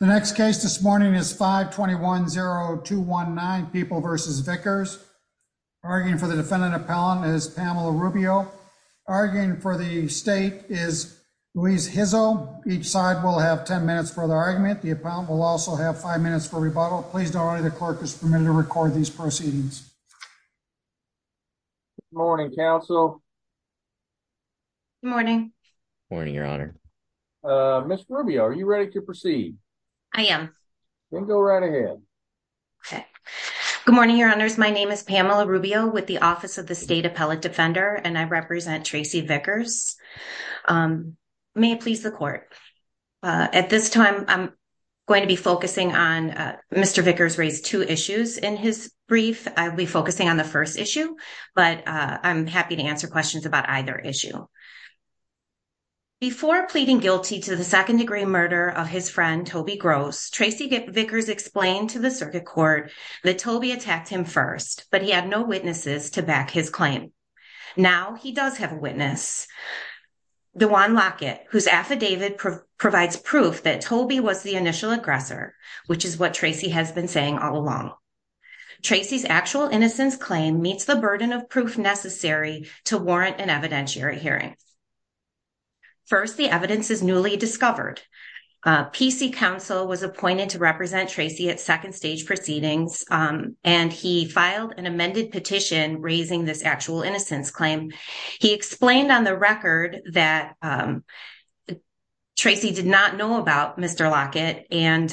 The next case this morning is 5-21-0-219 People v. Vickers. Arguing for the defendant appellant is Pamela Rubio. Arguing for the state is Louise Hizel. Each side will have 10 minutes for the argument. The appellant will also have 5 minutes for rebuttal. Please don't worry, the clerk is permitted to record these proceedings. Good morning, counsel. Good morning. Morning, your honor. Ms. Rubio, are you ready to proceed? I am. Then go right ahead. Okay. Good morning, your honors. My name is Pamela Rubio with the Office of the State Appellate Defender, and I represent Tracy Vickers. May it please the court. At this time, I'm going to be focusing on Mr. Vickers raised two issues in his brief. I'll be focusing on the first issue, but I'm happy to answer questions about either issue. Before pleading guilty to the second degree murder of his friend, Toby Gross, Tracy Vickers explained to the circuit court that Toby attacked him first, but he had no witnesses to back his claim. Now, he does have a witness, DeJuan Lockett, whose affidavit provides proof that Toby was the initial aggressor, which is what Tracy has been saying all along. Tracy's actual innocence claim meets the burden of proof necessary to warrant an evidentiary hearing. First, the evidence is newly discovered. PC counsel was appointed to represent Tracy at second stage proceedings, and he filed an amended petition raising this actual innocence claim. He explained on the record that Tracy did not know about Mr. Lockett, and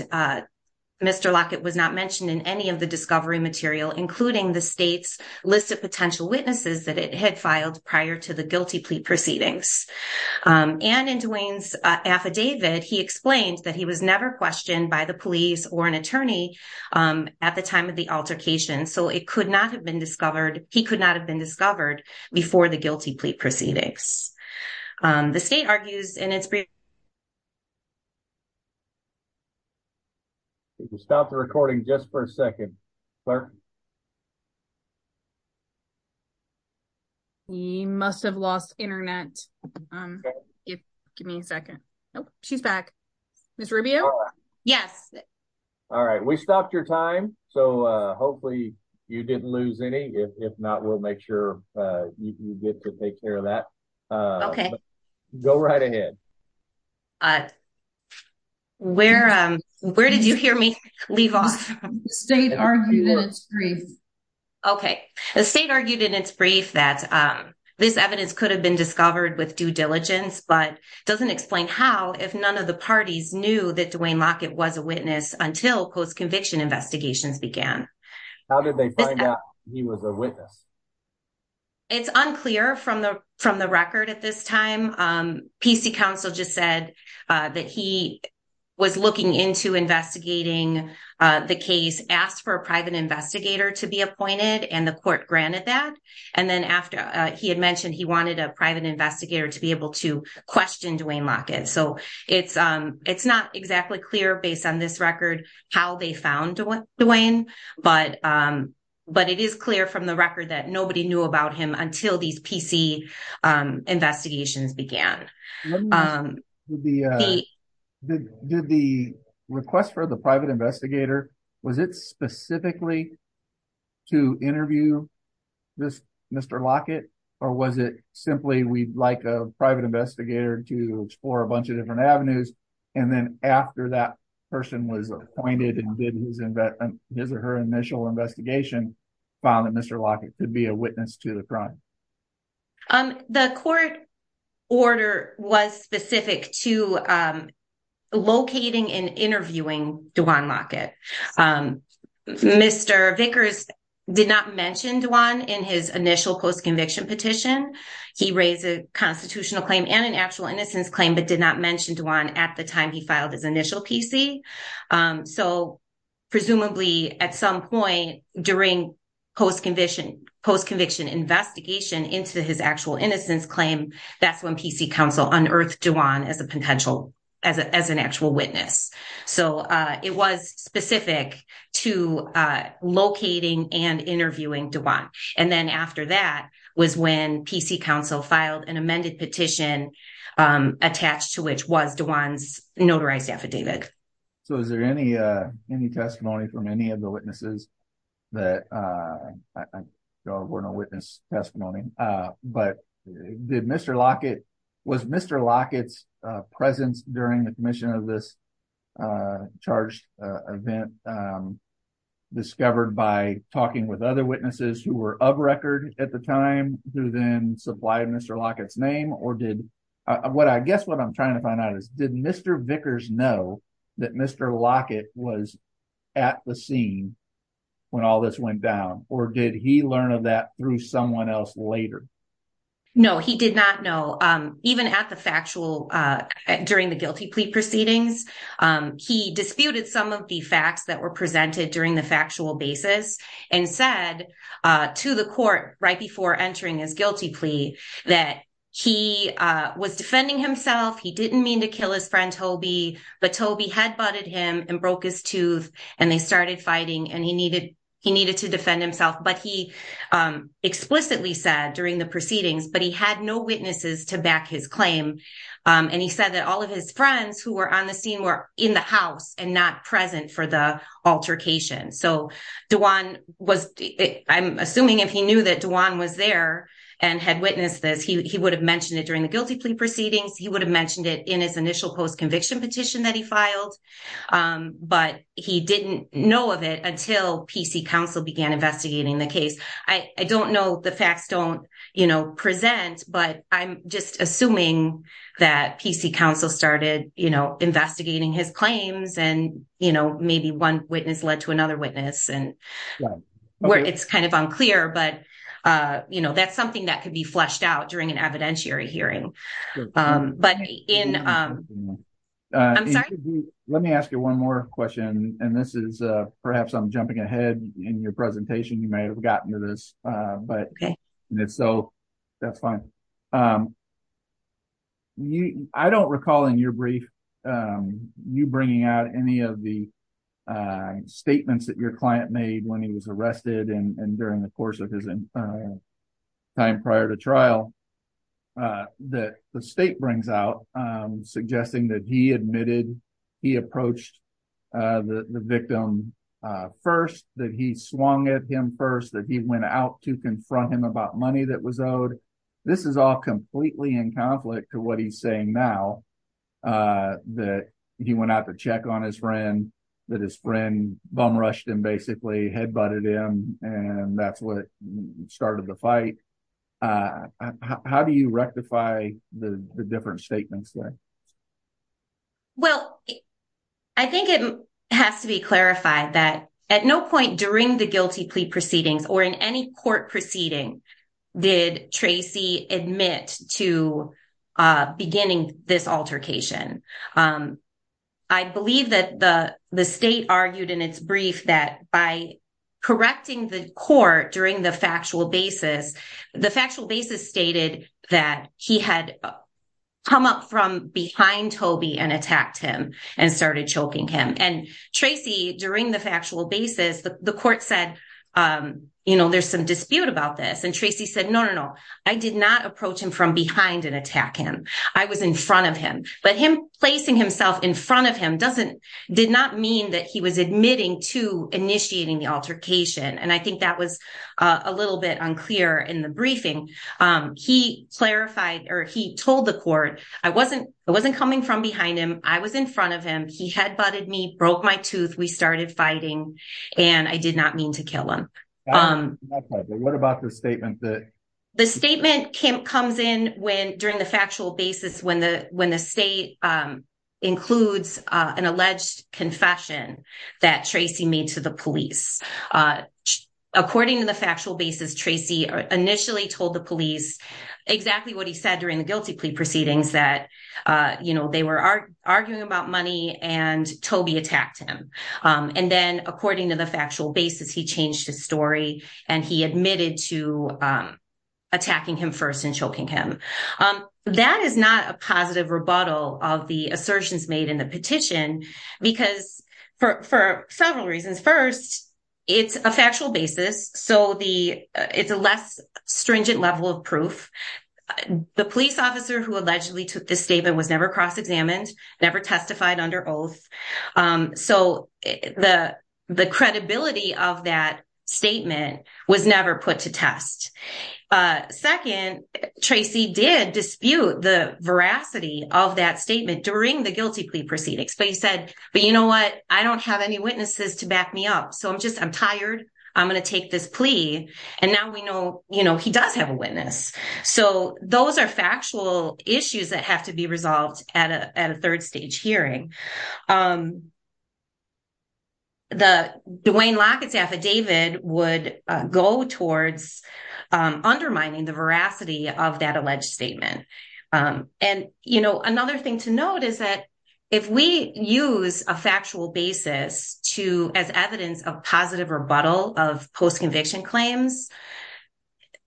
Mr. Lockett was not mentioned in any of the discovery material, including the state's list of potential witnesses that it had filed prior to the guilty plea proceedings. And in DeJuan's affidavit, he explained that he was never questioned by the police or an attorney at the time of the altercation, so it could not have been discovered, he could not have been discovered before the guilty plea proceedings. The state argues in its brief... Stop the recording just for a second. We must have lost internet. Give me a second. Nope, she's back. Ms. Rubio? Yes. All right, we stopped your time, so hopefully you didn't lose any. If not, we'll make sure you get to take care of that. Okay. Go right ahead. Uh, where did you hear me leave off? The state argued in its brief. Okay, the state argued in its brief that this evidence could have been discovered with due diligence, but doesn't explain how, if none of the parties knew that Duane Lockett was a witness until post-conviction investigations began. How did they find out he was a witness? It's unclear from the record at this time. PC counsel just said that he was looking into investigating the case, asked for a private investigator to be appointed, and the court granted that. And then after he had mentioned he wanted a private investigator to be able to question Duane Lockett. So it's not exactly clear based on this record how they found Duane, but it is clear from the record that nobody knew about him until these PC investigations began. Did the request for the private investigator, was it specifically to interview this Mr. Lockett? Or was it simply we'd like a private investigator to explore a bunch of different avenues, and then after that person was appointed and did his or her initial investigation, found that Mr. Lockett could be a witness to the crime? The court order was specific to locating and interviewing Duane Lockett. Mr. Vickers did not mention Duane in his initial post-conviction petition. He raised a constitutional claim and an actual innocence claim, but did not mention Duane at the time he filed his initial PC. So presumably at some point during post-conviction investigation into his actual innocence claim, that's when PC counsel unearthed Duane as an actual witness. So it was specific to locating and interviewing Duane. And then after that was when PC counsel filed an amended petition attached to which was Duane's notarized affidavit. So is there any testimony from any of the witnesses? That were no witness testimony, but did Mr. Lockett, was Mr. Lockett's presence during the commission of this charged event discovered by talking with other witnesses who were of record at the time, who then supplied Mr. Lockett's name? Or did what I guess what I'm trying to find out is, did Mr. Vickers know that Mr. Lockett was at the scene when all this went down? Or did he learn of that through someone else later? No, he did not know. Even at the factual, during the guilty plea proceedings, he disputed some of the facts that were presented during the factual basis and said to the court right before entering his guilty plea that he was defending himself. He didn't mean to kill his friend Toby, but Toby had butted him and broke his tooth and they started fighting and he needed to defend himself. But he explicitly said during the proceedings, but he had no witnesses to back his claim. And he said that all of his friends who were on the scene were in the house and not present for the altercation. So Duane was, I'm assuming if he knew that Duane was there and had witnessed this, he would have mentioned it during the guilty plea proceedings. He would have mentioned it in his initial post-conviction petition that he filed. But he didn't know of it until PC counsel began investigating the case. I don't know, the facts don't present, but I'm just assuming that PC counsel started investigating his claims and maybe one witness led to another witness. It's kind of unclear, but that's something that could be fleshed out during an evidentiary hearing. But in, I'm sorry. Let me ask you one more question. And this is perhaps I'm jumping ahead in your presentation. You may have gotten to this, but so that's fine. I don't recall in your brief, you bringing out any of the statements that your client made when he was arrested and during the course of his time prior to trial, that the state brings out, suggesting that he admitted he approached the victim first, that he swung at him first, that he went out to confront him about money that was owed. This is all completely in conflict to what he's saying now, that he went out to check on his friend, that his friend bum-rushed him, basically head-butted him, and that's what started the fight. How do you rectify the different statements there? Well, I think it has to be clarified that at no point during the guilty plea proceedings or in any court proceeding did Tracy admit to beginning this altercation. I believe that the state argued in its brief that by correcting the court during the factual basis, the factual basis stated that he had come up from behind Toby and attacked him and started choking him. And Tracy, during the factual basis, the court said, you know, there's some dispute about this. And Tracy said, no, no, no. I did not approach him from behind and attack him. I was in front of him. But him placing himself in front of him did not mean that he was admitting to initiating the altercation. And I think that was a little bit unclear in the briefing. He clarified, or he told the court, I wasn't coming from behind him. I was in front of him. He head-butted me, broke my tooth. We started fighting. And I did not mean to kill him. What about the statement that... The statement comes in during the factual basis when the state includes an alleged confession that Tracy made to the police. According to the factual basis, Tracy initially told the police exactly what he said during the guilty plea proceedings, that, you know, they were arguing about money and Toby attacked him. And then according to the factual basis, he changed his story and he admitted to attacking him first and choking him. That is not a positive rebuttal of the assertions made in the petition because for several reasons. First, it's a factual basis. So it's a less stringent level of proof. The police officer who allegedly took this statement was never cross-examined, never testified under oath. So the credibility of that statement was never put to test. Second, Tracy did dispute the veracity of that statement during the guilty plea proceedings. But he said, but you know what? I don't have any witnesses to back me up. So I'm just, I'm tired. I'm going to take this plea. And now we know, you know, he does have a witness. So those are factual issues that have to be resolved at a third stage hearing. The Dwayne Lockett's affidavit would go towards undermining the veracity of that alleged statement. And, you know, another thing to note is that if we use a factual basis to, as evidence of positive rebuttal of post-conviction claims,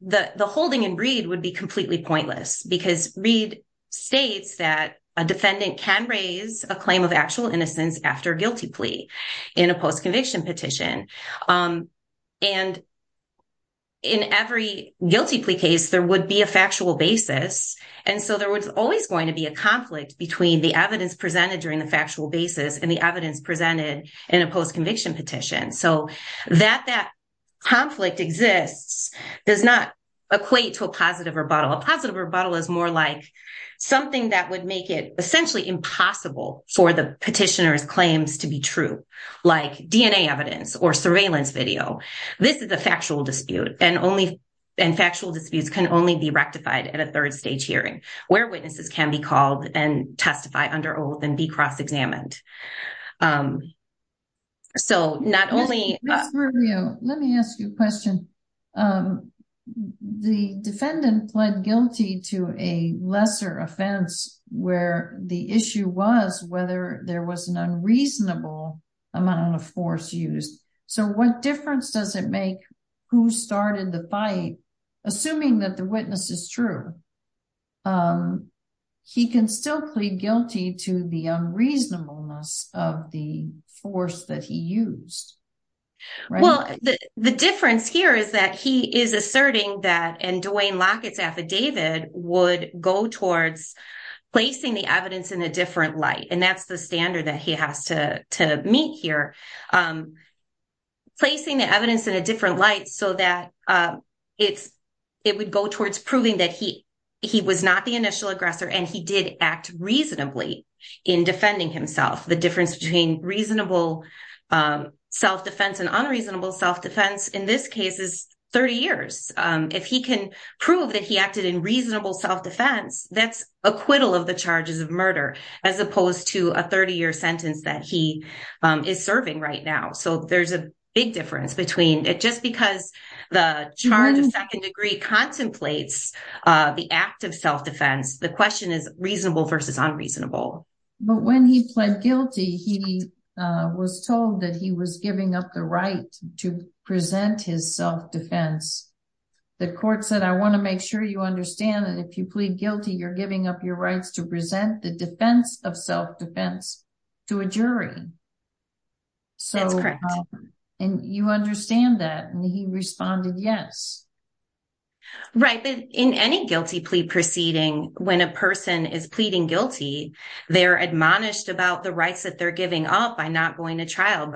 the holding in Reed would be completely pointless because Reed states that a defendant can raise a claim of actual innocence after a guilty plea in a post-conviction petition. And in every guilty plea case, there would be a factual basis. And so there was always going to be a conflict between the evidence presented during the factual basis and the evidence presented in a post-conviction petition. So that that conflict exists does not equate to a positive rebuttal. A positive rebuttal is more like something that would make it essentially impossible for the petitioner's claims to be true, like DNA evidence or surveillance video. This is a factual dispute. And factual disputes can only be rectified at a third stage hearing where witnesses can be called and testify under oath and be cross-examined. So not only- Ms. Rubio, let me ask you a question. The defendant pled guilty to a lesser offense where the issue was whether there was an unreasonable amount of force used. So what difference does it make who started the fight? Assuming that the witness is true, he can still plead guilty to the unreasonableness of the force that he used, right? Well, the difference here is that he is asserting that and Dwayne Lockett's affidavit would go towards placing the evidence in a different light. And that's the standard that he has to meet here. Placing the evidence in a different light so that it would go towards proving he was not the initial aggressor and he did act reasonably in defending himself. The difference between reasonable self-defense and unreasonable self-defense in this case is 30 years. If he can prove that he acted in reasonable self-defense, that's acquittal of the charges of murder, as opposed to a 30-year sentence that he is serving right now. So there's a big difference between it. Because the charge of second degree contemplates the act of self-defense, the question is reasonable versus unreasonable. But when he pled guilty, he was told that he was giving up the right to present his self-defense. The court said, I want to make sure you understand that if you plead guilty, you're giving up your rights to present the defense of self-defense to a jury. That's correct. And you understand that. And he responded, yes. Right. But in any guilty plea proceeding, when a person is pleading guilty, they're admonished about the rights that they're giving up by not going to trial,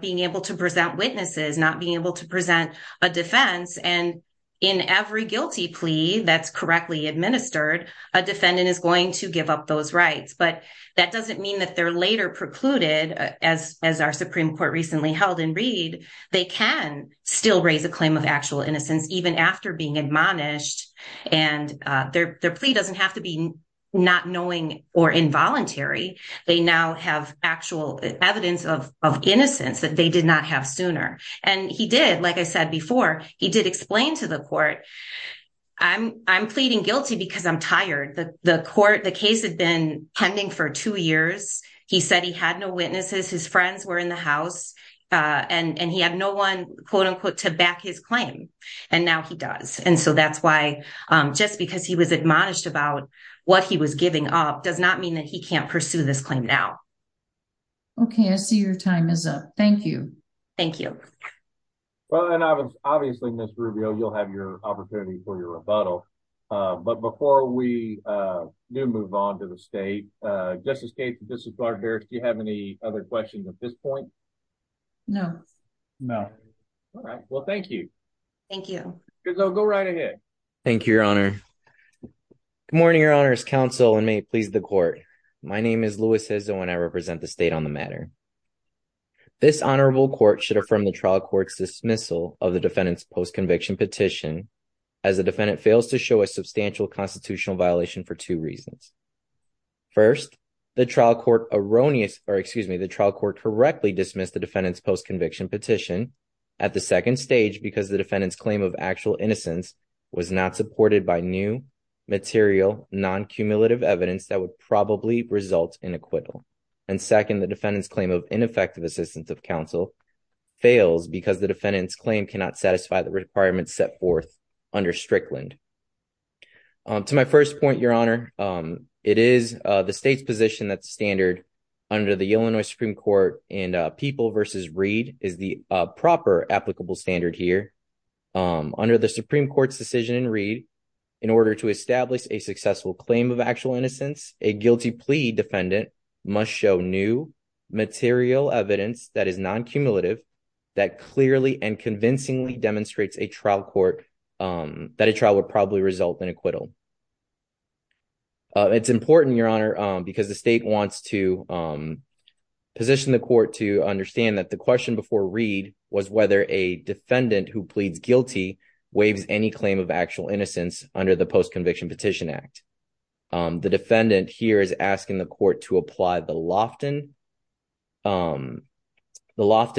being able to present witnesses, not being able to present a defense. And in every guilty plea that's correctly administered, a defendant is going to give up those rights. But that doesn't mean that they're later precluded as our Supreme Court recently held in Reed. They can still raise a claim of actual innocence even after being admonished. And their plea doesn't have to be not knowing or involuntary. They now have actual evidence of innocence that they did not have sooner. And he did, like I said before, he did explain to the court, I'm pleading guilty because I'm tired. The court, the case had been pending for two years. He said he had no witnesses. His friends were in the house and he had no one, quote unquote, to back his claim. And now he does. And so that's why just because he was admonished about what he was giving up does not mean that he can't pursue this claim now. Okay, I see your time is up. Thank you. Thank you. Well, and obviously, Ms. Rubio, you'll have your opportunity for your rebuttal. But before we do move on to the state, Justice Gates and Justice Barber, do you have any other questions at this point? No. No. All right, well, thank you. Thank you. Go right ahead. Thank you, Your Honor. Good morning, Your Honor's counsel and may it please the court. My name is Luis Izzo and I represent the state on the matter. This honorable court should affirm the trial court's dismissal of the defendant's post-conviction petition as the defendant fails to show a substantial constitutional violation for two reasons. First, the trial court erroneous, or excuse me, the trial court correctly dismissed the defendant's post-conviction petition at the second stage because the defendant's claim of actual innocence was not supported by new material, non-cumulative evidence that would probably result in acquittal. And second, the defendant's claim of ineffective assistance of counsel fails because the defendant's claim cannot satisfy the requirements set forth under Strickland. To my first point, Your Honor, it is the state's position that standard under the Illinois Supreme Court and People v. Reed is the proper applicable standard here. Under the Supreme Court's decision in Reed, in order to establish a successful claim of actual innocence, a guilty plea defendant must show new material evidence that is non-cumulative that clearly and convincingly demonstrates a trial court that a trial would probably result in acquittal. It's important, Your Honor, because the state wants to position the court to understand that the question before Reed was whether a defendant who pleads guilty waives any claim of actual innocence under the Post-Conviction Petition Act. The defendant here is asking the court to apply the Lofton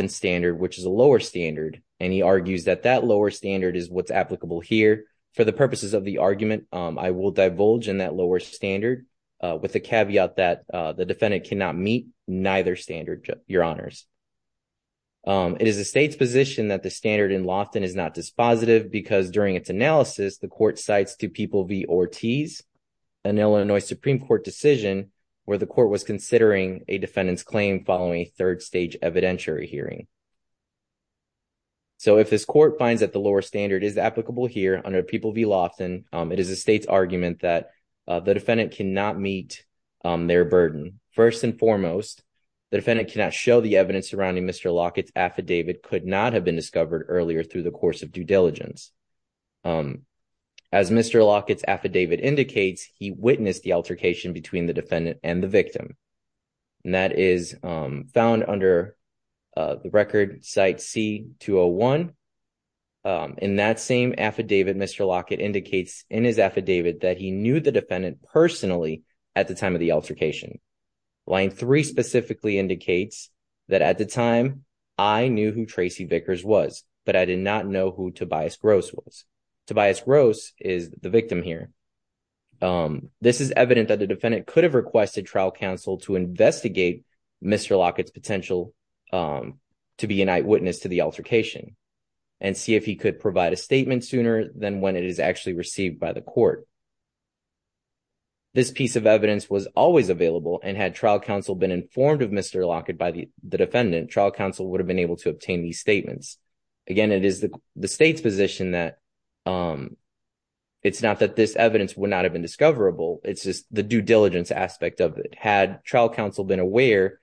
standard, which is a lower standard, and he argues that that lower standard is what's applicable here for the purposes of the argument I will divulge in that lower standard with the caveat that the defendant cannot meet neither standard, Your Honors. It is the state's position that the standard in Lofton is not dispositive because during its analysis, the court cites to People v. Ortiz, an Illinois Supreme Court decision where the court was considering a defendant's claim following a third-stage evidentiary hearing. So if this court finds that the lower standard is applicable here under People v. Lofton, it is the state's argument that the defendant cannot meet their burden. First and foremost, the defendant cannot show the evidence surrounding Mr. Lockett's affidavit could not have been discovered earlier through the course of due diligence. As Mr. Lockett's affidavit indicates, he witnessed the altercation between the defendant and the victim, and that is found under the record C-201. In that same affidavit, Mr. Lockett indicates in his affidavit that he knew the defendant personally at the time of the altercation. Line three specifically indicates that at the time I knew who Tracy Vickers was, but I did not know who Tobias Gross was. Tobias Gross is the victim here. This is evident that the defendant could have requested trial counsel to investigate Mr. Lockett's potential to be an eyewitness to the altercation and see if he could provide a statement than when it is actually received by the court. This piece of evidence was always available, and had trial counsel been informed of Mr. Lockett by the defendant, trial counsel would have been able to obtain these statements. Again, it is the state's position that it's not that this evidence would not have been discoverable, it's just the due diligence aspect of it. Had trial counsel been aware,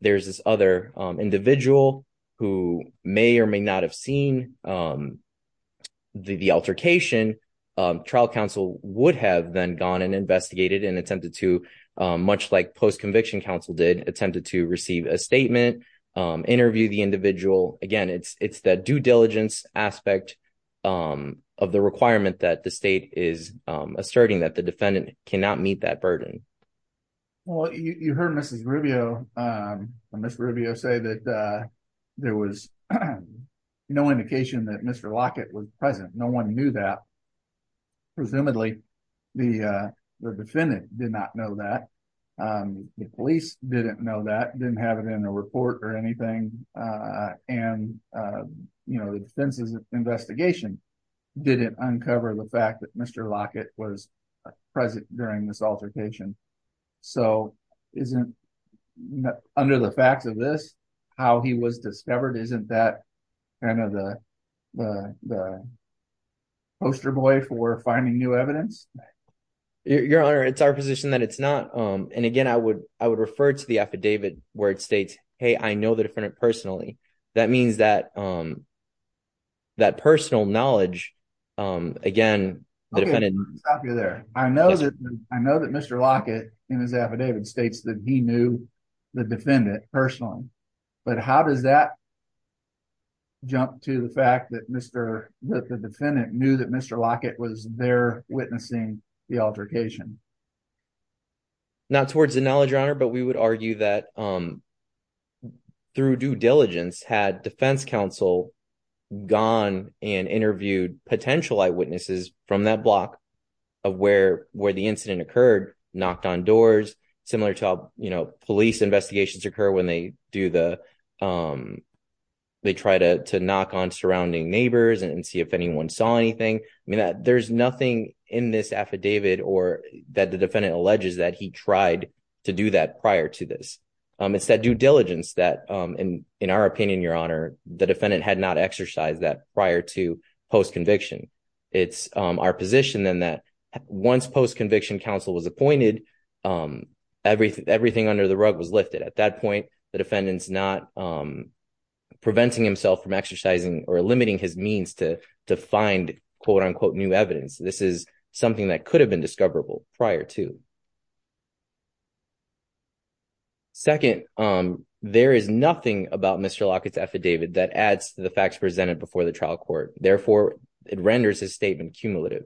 there's this other individual who may or may not have seen the altercation, trial counsel would have then gone and investigated and attempted to, much like post-conviction counsel did, attempted to receive a statement, interview the individual. Again, it's that due diligence aspect of the requirement that the state is asserting that the defendant cannot meet that burden. Well, you heard Mrs. Rubio, or Ms. Rubio say that there was no indication that Mr. Lockett was present, no one knew that. Presumably, the defendant did not know that, the police didn't know that, didn't have it in a report or anything, and the defense's investigation didn't uncover the fact that Mr. Lockett was present during this altercation. Under the facts of this, how he was discovered isn't that kind of the poster boy for finding new evidence? Your Honor, it's our position that it's not. And again, I would refer to the affidavit where it states, hey, I know the defendant personally. That means that personal knowledge, again, the defendant- Okay, I'll stop you there. I know that Mr. Lockett in his affidavit states that he knew the defendant personally, but how does that jump to the fact that the defendant knew that Mr. Lockett was there witnessing the altercation? Not towards the knowledge, Your Honor, but we would argue that through due diligence had defense counsel gone and interviewed potential eyewitnesses from that block of where the incident occurred, knocked on doors, similar to how police investigations occur when they try to knock on surrounding neighbors and see if anyone saw anything. I mean, there's nothing in this affidavit or that the defendant alleges that he tried to do that prior to this. It's that due diligence that in our opinion, Your Honor, the defendant had not exercised that prior to post-conviction. It's our position then that once post-conviction counsel was appointed, everything under the rug was lifted. At that point, the defendant's not preventing himself from exercising or limiting his means to find quote-unquote new evidence. This is something that could have been discoverable prior to. Second, there is nothing about Mr. Lockett's affidavit that adds to the facts presented before the trial court. Therefore, it renders his statement cumulative.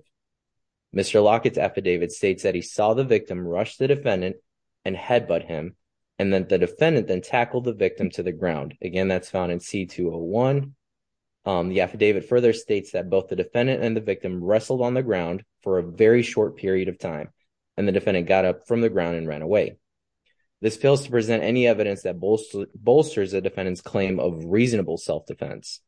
Mr. Lockett's affidavit states that he saw the victim rush the defendant and headbutt him and that the defendant then tackled the victim to the ground. Again, that's found in C-201. The affidavit further states that both the defendant and the victim wrestled on the ground for a very short period of time and the defendant got up from the ground and ran away. This fails to present any evidence that bolsters the defendant's claim of reasonable self-defense.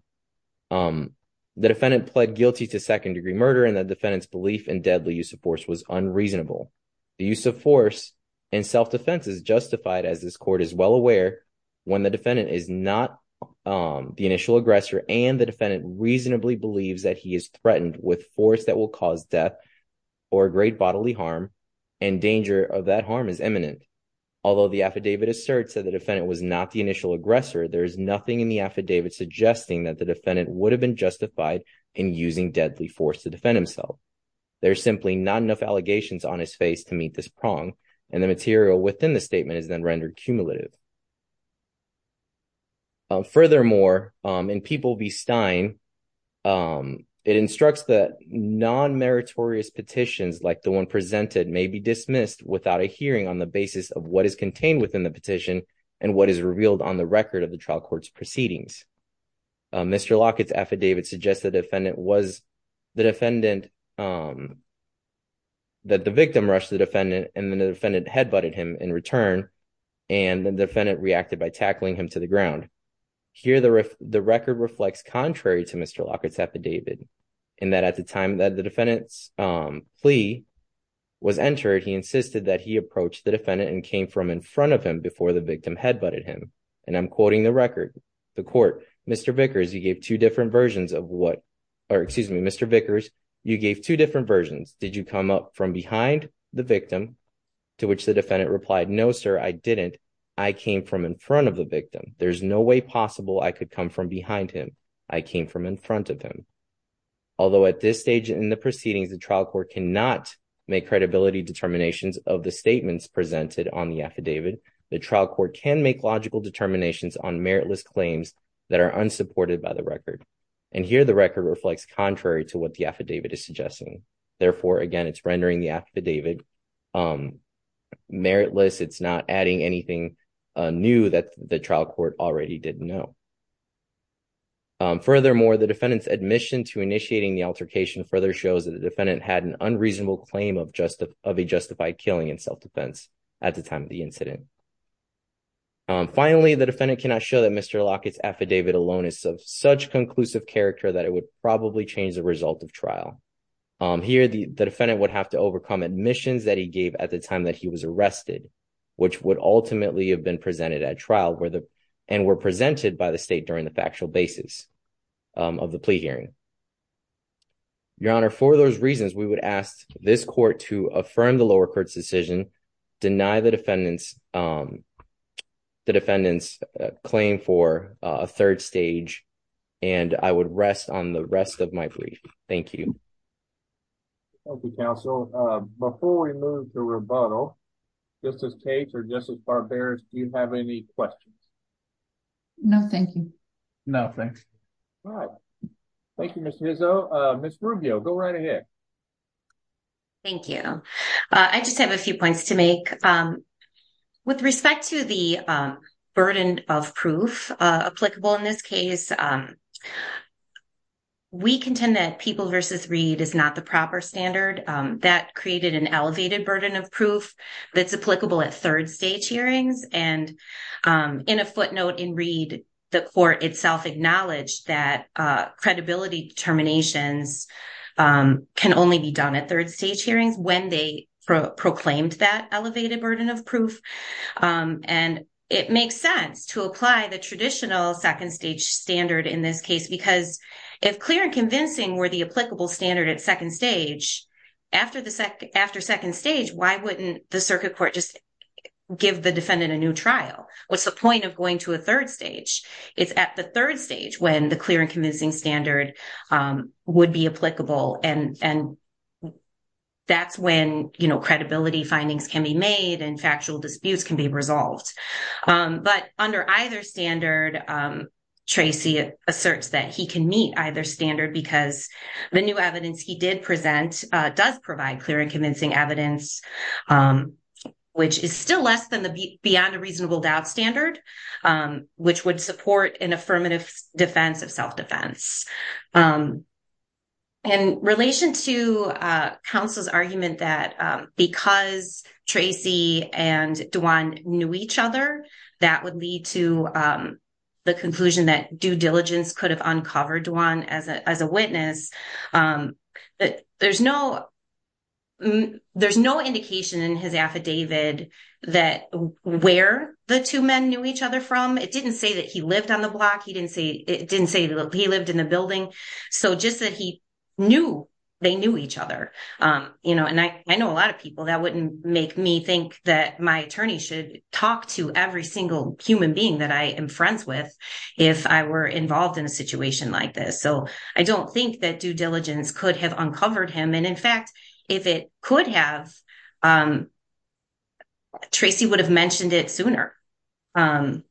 The defendant pled guilty to second-degree murder and the defendant's belief in deadly use of force was unreasonable. The use of force and self-defense is justified as this court is well aware when the defendant is not the initial aggressor and the defendant reasonably believes that he is threatened with force that will cause death or great bodily harm and danger of that harm is imminent. Although the affidavit asserts that the defendant was not the initial aggressor, there is nothing in the affidavit suggesting that the defendant would have been justified in using deadly force to defend himself. There's simply not enough allegations on his face to meet this prong and the material within the statement is then rendered cumulative. Furthermore, in People v. Stein, it instructs that non-meritorious petitions like the one presented may be dismissed without a hearing on the basis of what is contained within the petition and what is revealed on the record of the trial court's proceedings. Mr. Lockett's affidavit suggests that the victim rushed the defendant and then the defendant head-butted him in return and the defendant reacted by tackling him to the ground. Here, the record reflects contrary to Mr. Lockett's affidavit in that at the time that the defendant's plea was entered, he insisted that he approached the defendant and came from in front of him before the victim head-butted him and I'm quoting the record. The court, Mr. Vickers, you gave two different versions of what, or excuse me, Mr. Vickers, you gave two different versions. Did you come up from behind the victim to which the defendant replied, no, sir, I didn't. I came from in front of the victim. There's no way possible I could come from behind him. I came from in front of him. Although at this stage in the proceedings, the trial court cannot make credibility determinations of the statements presented on the affidavit, the trial court can make logical determinations on meritless claims that are unsupported by the record and here the record reflects contrary to what the affidavit is suggesting. Therefore, again, it's rendering the affidavit meritless. It's not adding anything new that the trial court already didn't know. Furthermore, the defendant's admission to initiating the altercation further shows that the defendant had an unreasonable claim of a justified killing in self-defense at the time of the incident. Finally, the defendant cannot show that Mr. Lockett's affidavit alone is of such conclusive character that it would probably change the result of trial. Here, the defendant would have to overcome admissions that he gave at the time that he was arrested, which would ultimately have been presented at trial and were presented by the state during the factual basis of the plea hearing. Your Honor, for those reasons, we would ask this court to affirm the lower court's decision, deny the defendant's claim for a third stage and I would rest on the rest of my plea. Thank you. Thank you, counsel. Before we move to rebuttal, Justice Cates or Justice Barberis, do you have any questions? No, thank you. No, thanks. All right. Thank you, Ms. Hizzo. Ms. Rubio, go right ahead. Thank you. I just have a few points to make. With respect to the burden of proof applicable in this case, we contend that People v. Reed is not the proper standard. That created an elevated burden of proof that's applicable at third stage hearings. And in a footnote in Reed, the court itself acknowledged that credibility determinations can only be done at third stage hearings when they proclaimed that elevated burden of proof. And it makes sense to apply the traditional second stage standard of proof in this case. Because if clear and convincing were the applicable standard at second stage, after second stage, why wouldn't the circuit court just give the defendant a new trial? What's the point of going to a third stage? It's at the third stage when the clear and convincing standard would be applicable. And that's when credibility findings can be made and factual disputes can be resolved. But under either standard, Tracy asserts that he can meet either standard because the new evidence he did present does provide clear and convincing evidence, which is still less than the beyond a reasonable doubt standard, which would support an affirmative defense of self-defense. In relation to counsel's argument that because Tracy and Duann knew each other, that would lead to the conclusion that due diligence could have uncovered Duann as a witness. There's no indication in his affidavit that where the two men knew each other from. It didn't say that he lived on the block. He didn't say that he lived in the building. So just that he knew they knew each other. And I know a lot of people that wouldn't make me think that my attorney should talk to every single human being that I am friends with if I were involved in a situation like this. So I don't think that due diligence could have uncovered him. And in fact, if it could have, Tracy would have mentioned it sooner. And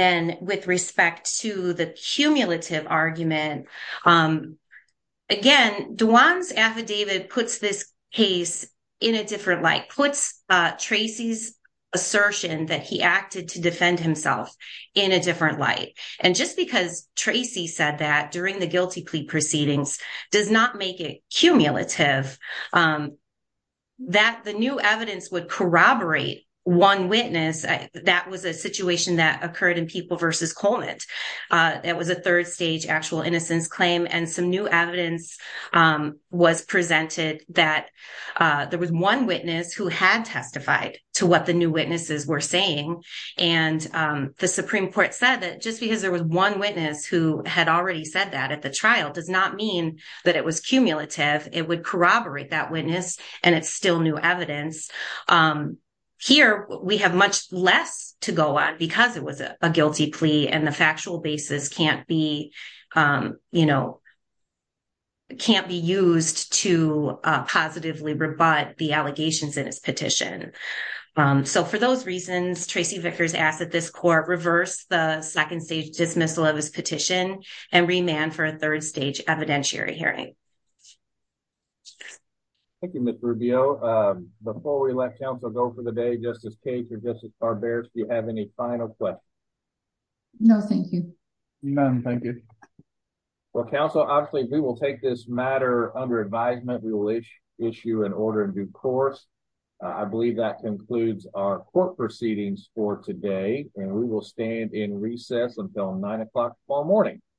then with respect to the cumulative argument, again, Duann's affidavit puts this case in a different light, puts Tracy's assertion that he acted to defend himself in a different light. And just because Tracy said that during the guilty plea proceedings does not make it cumulative that the new evidence would corroborate one witness. That was a situation that occurred in People v. Colnett. That was a third stage actual innocence claim. And some new evidence was presented that there was one witness who had testified to what the new witnesses were saying. And the Supreme Court said that just because there was one witness who had already said that at the trial does not mean that it was cumulative. It would corroborate that witness and it's still new evidence. Here, we have much less to go on because it was a guilty plea and the factual basis can't be, it can't be used to positively rebut the allegations in his petition. So for those reasons, Tracy Vickers asked that this court reverse the second stage dismissal of his petition and remand for a third stage evidentiary hearing. Thank you, Ms. Rubio. Before we let counsel go for the day, Justice Cates or Justice Barberis, do you have any final questions? No, thank you. None, thank you. Well, counsel, obviously, we will take this matter under advisement. We will issue an order in due course. I believe that concludes our court proceedings for today. And we will stand in recess until nine o'clock, fall morning.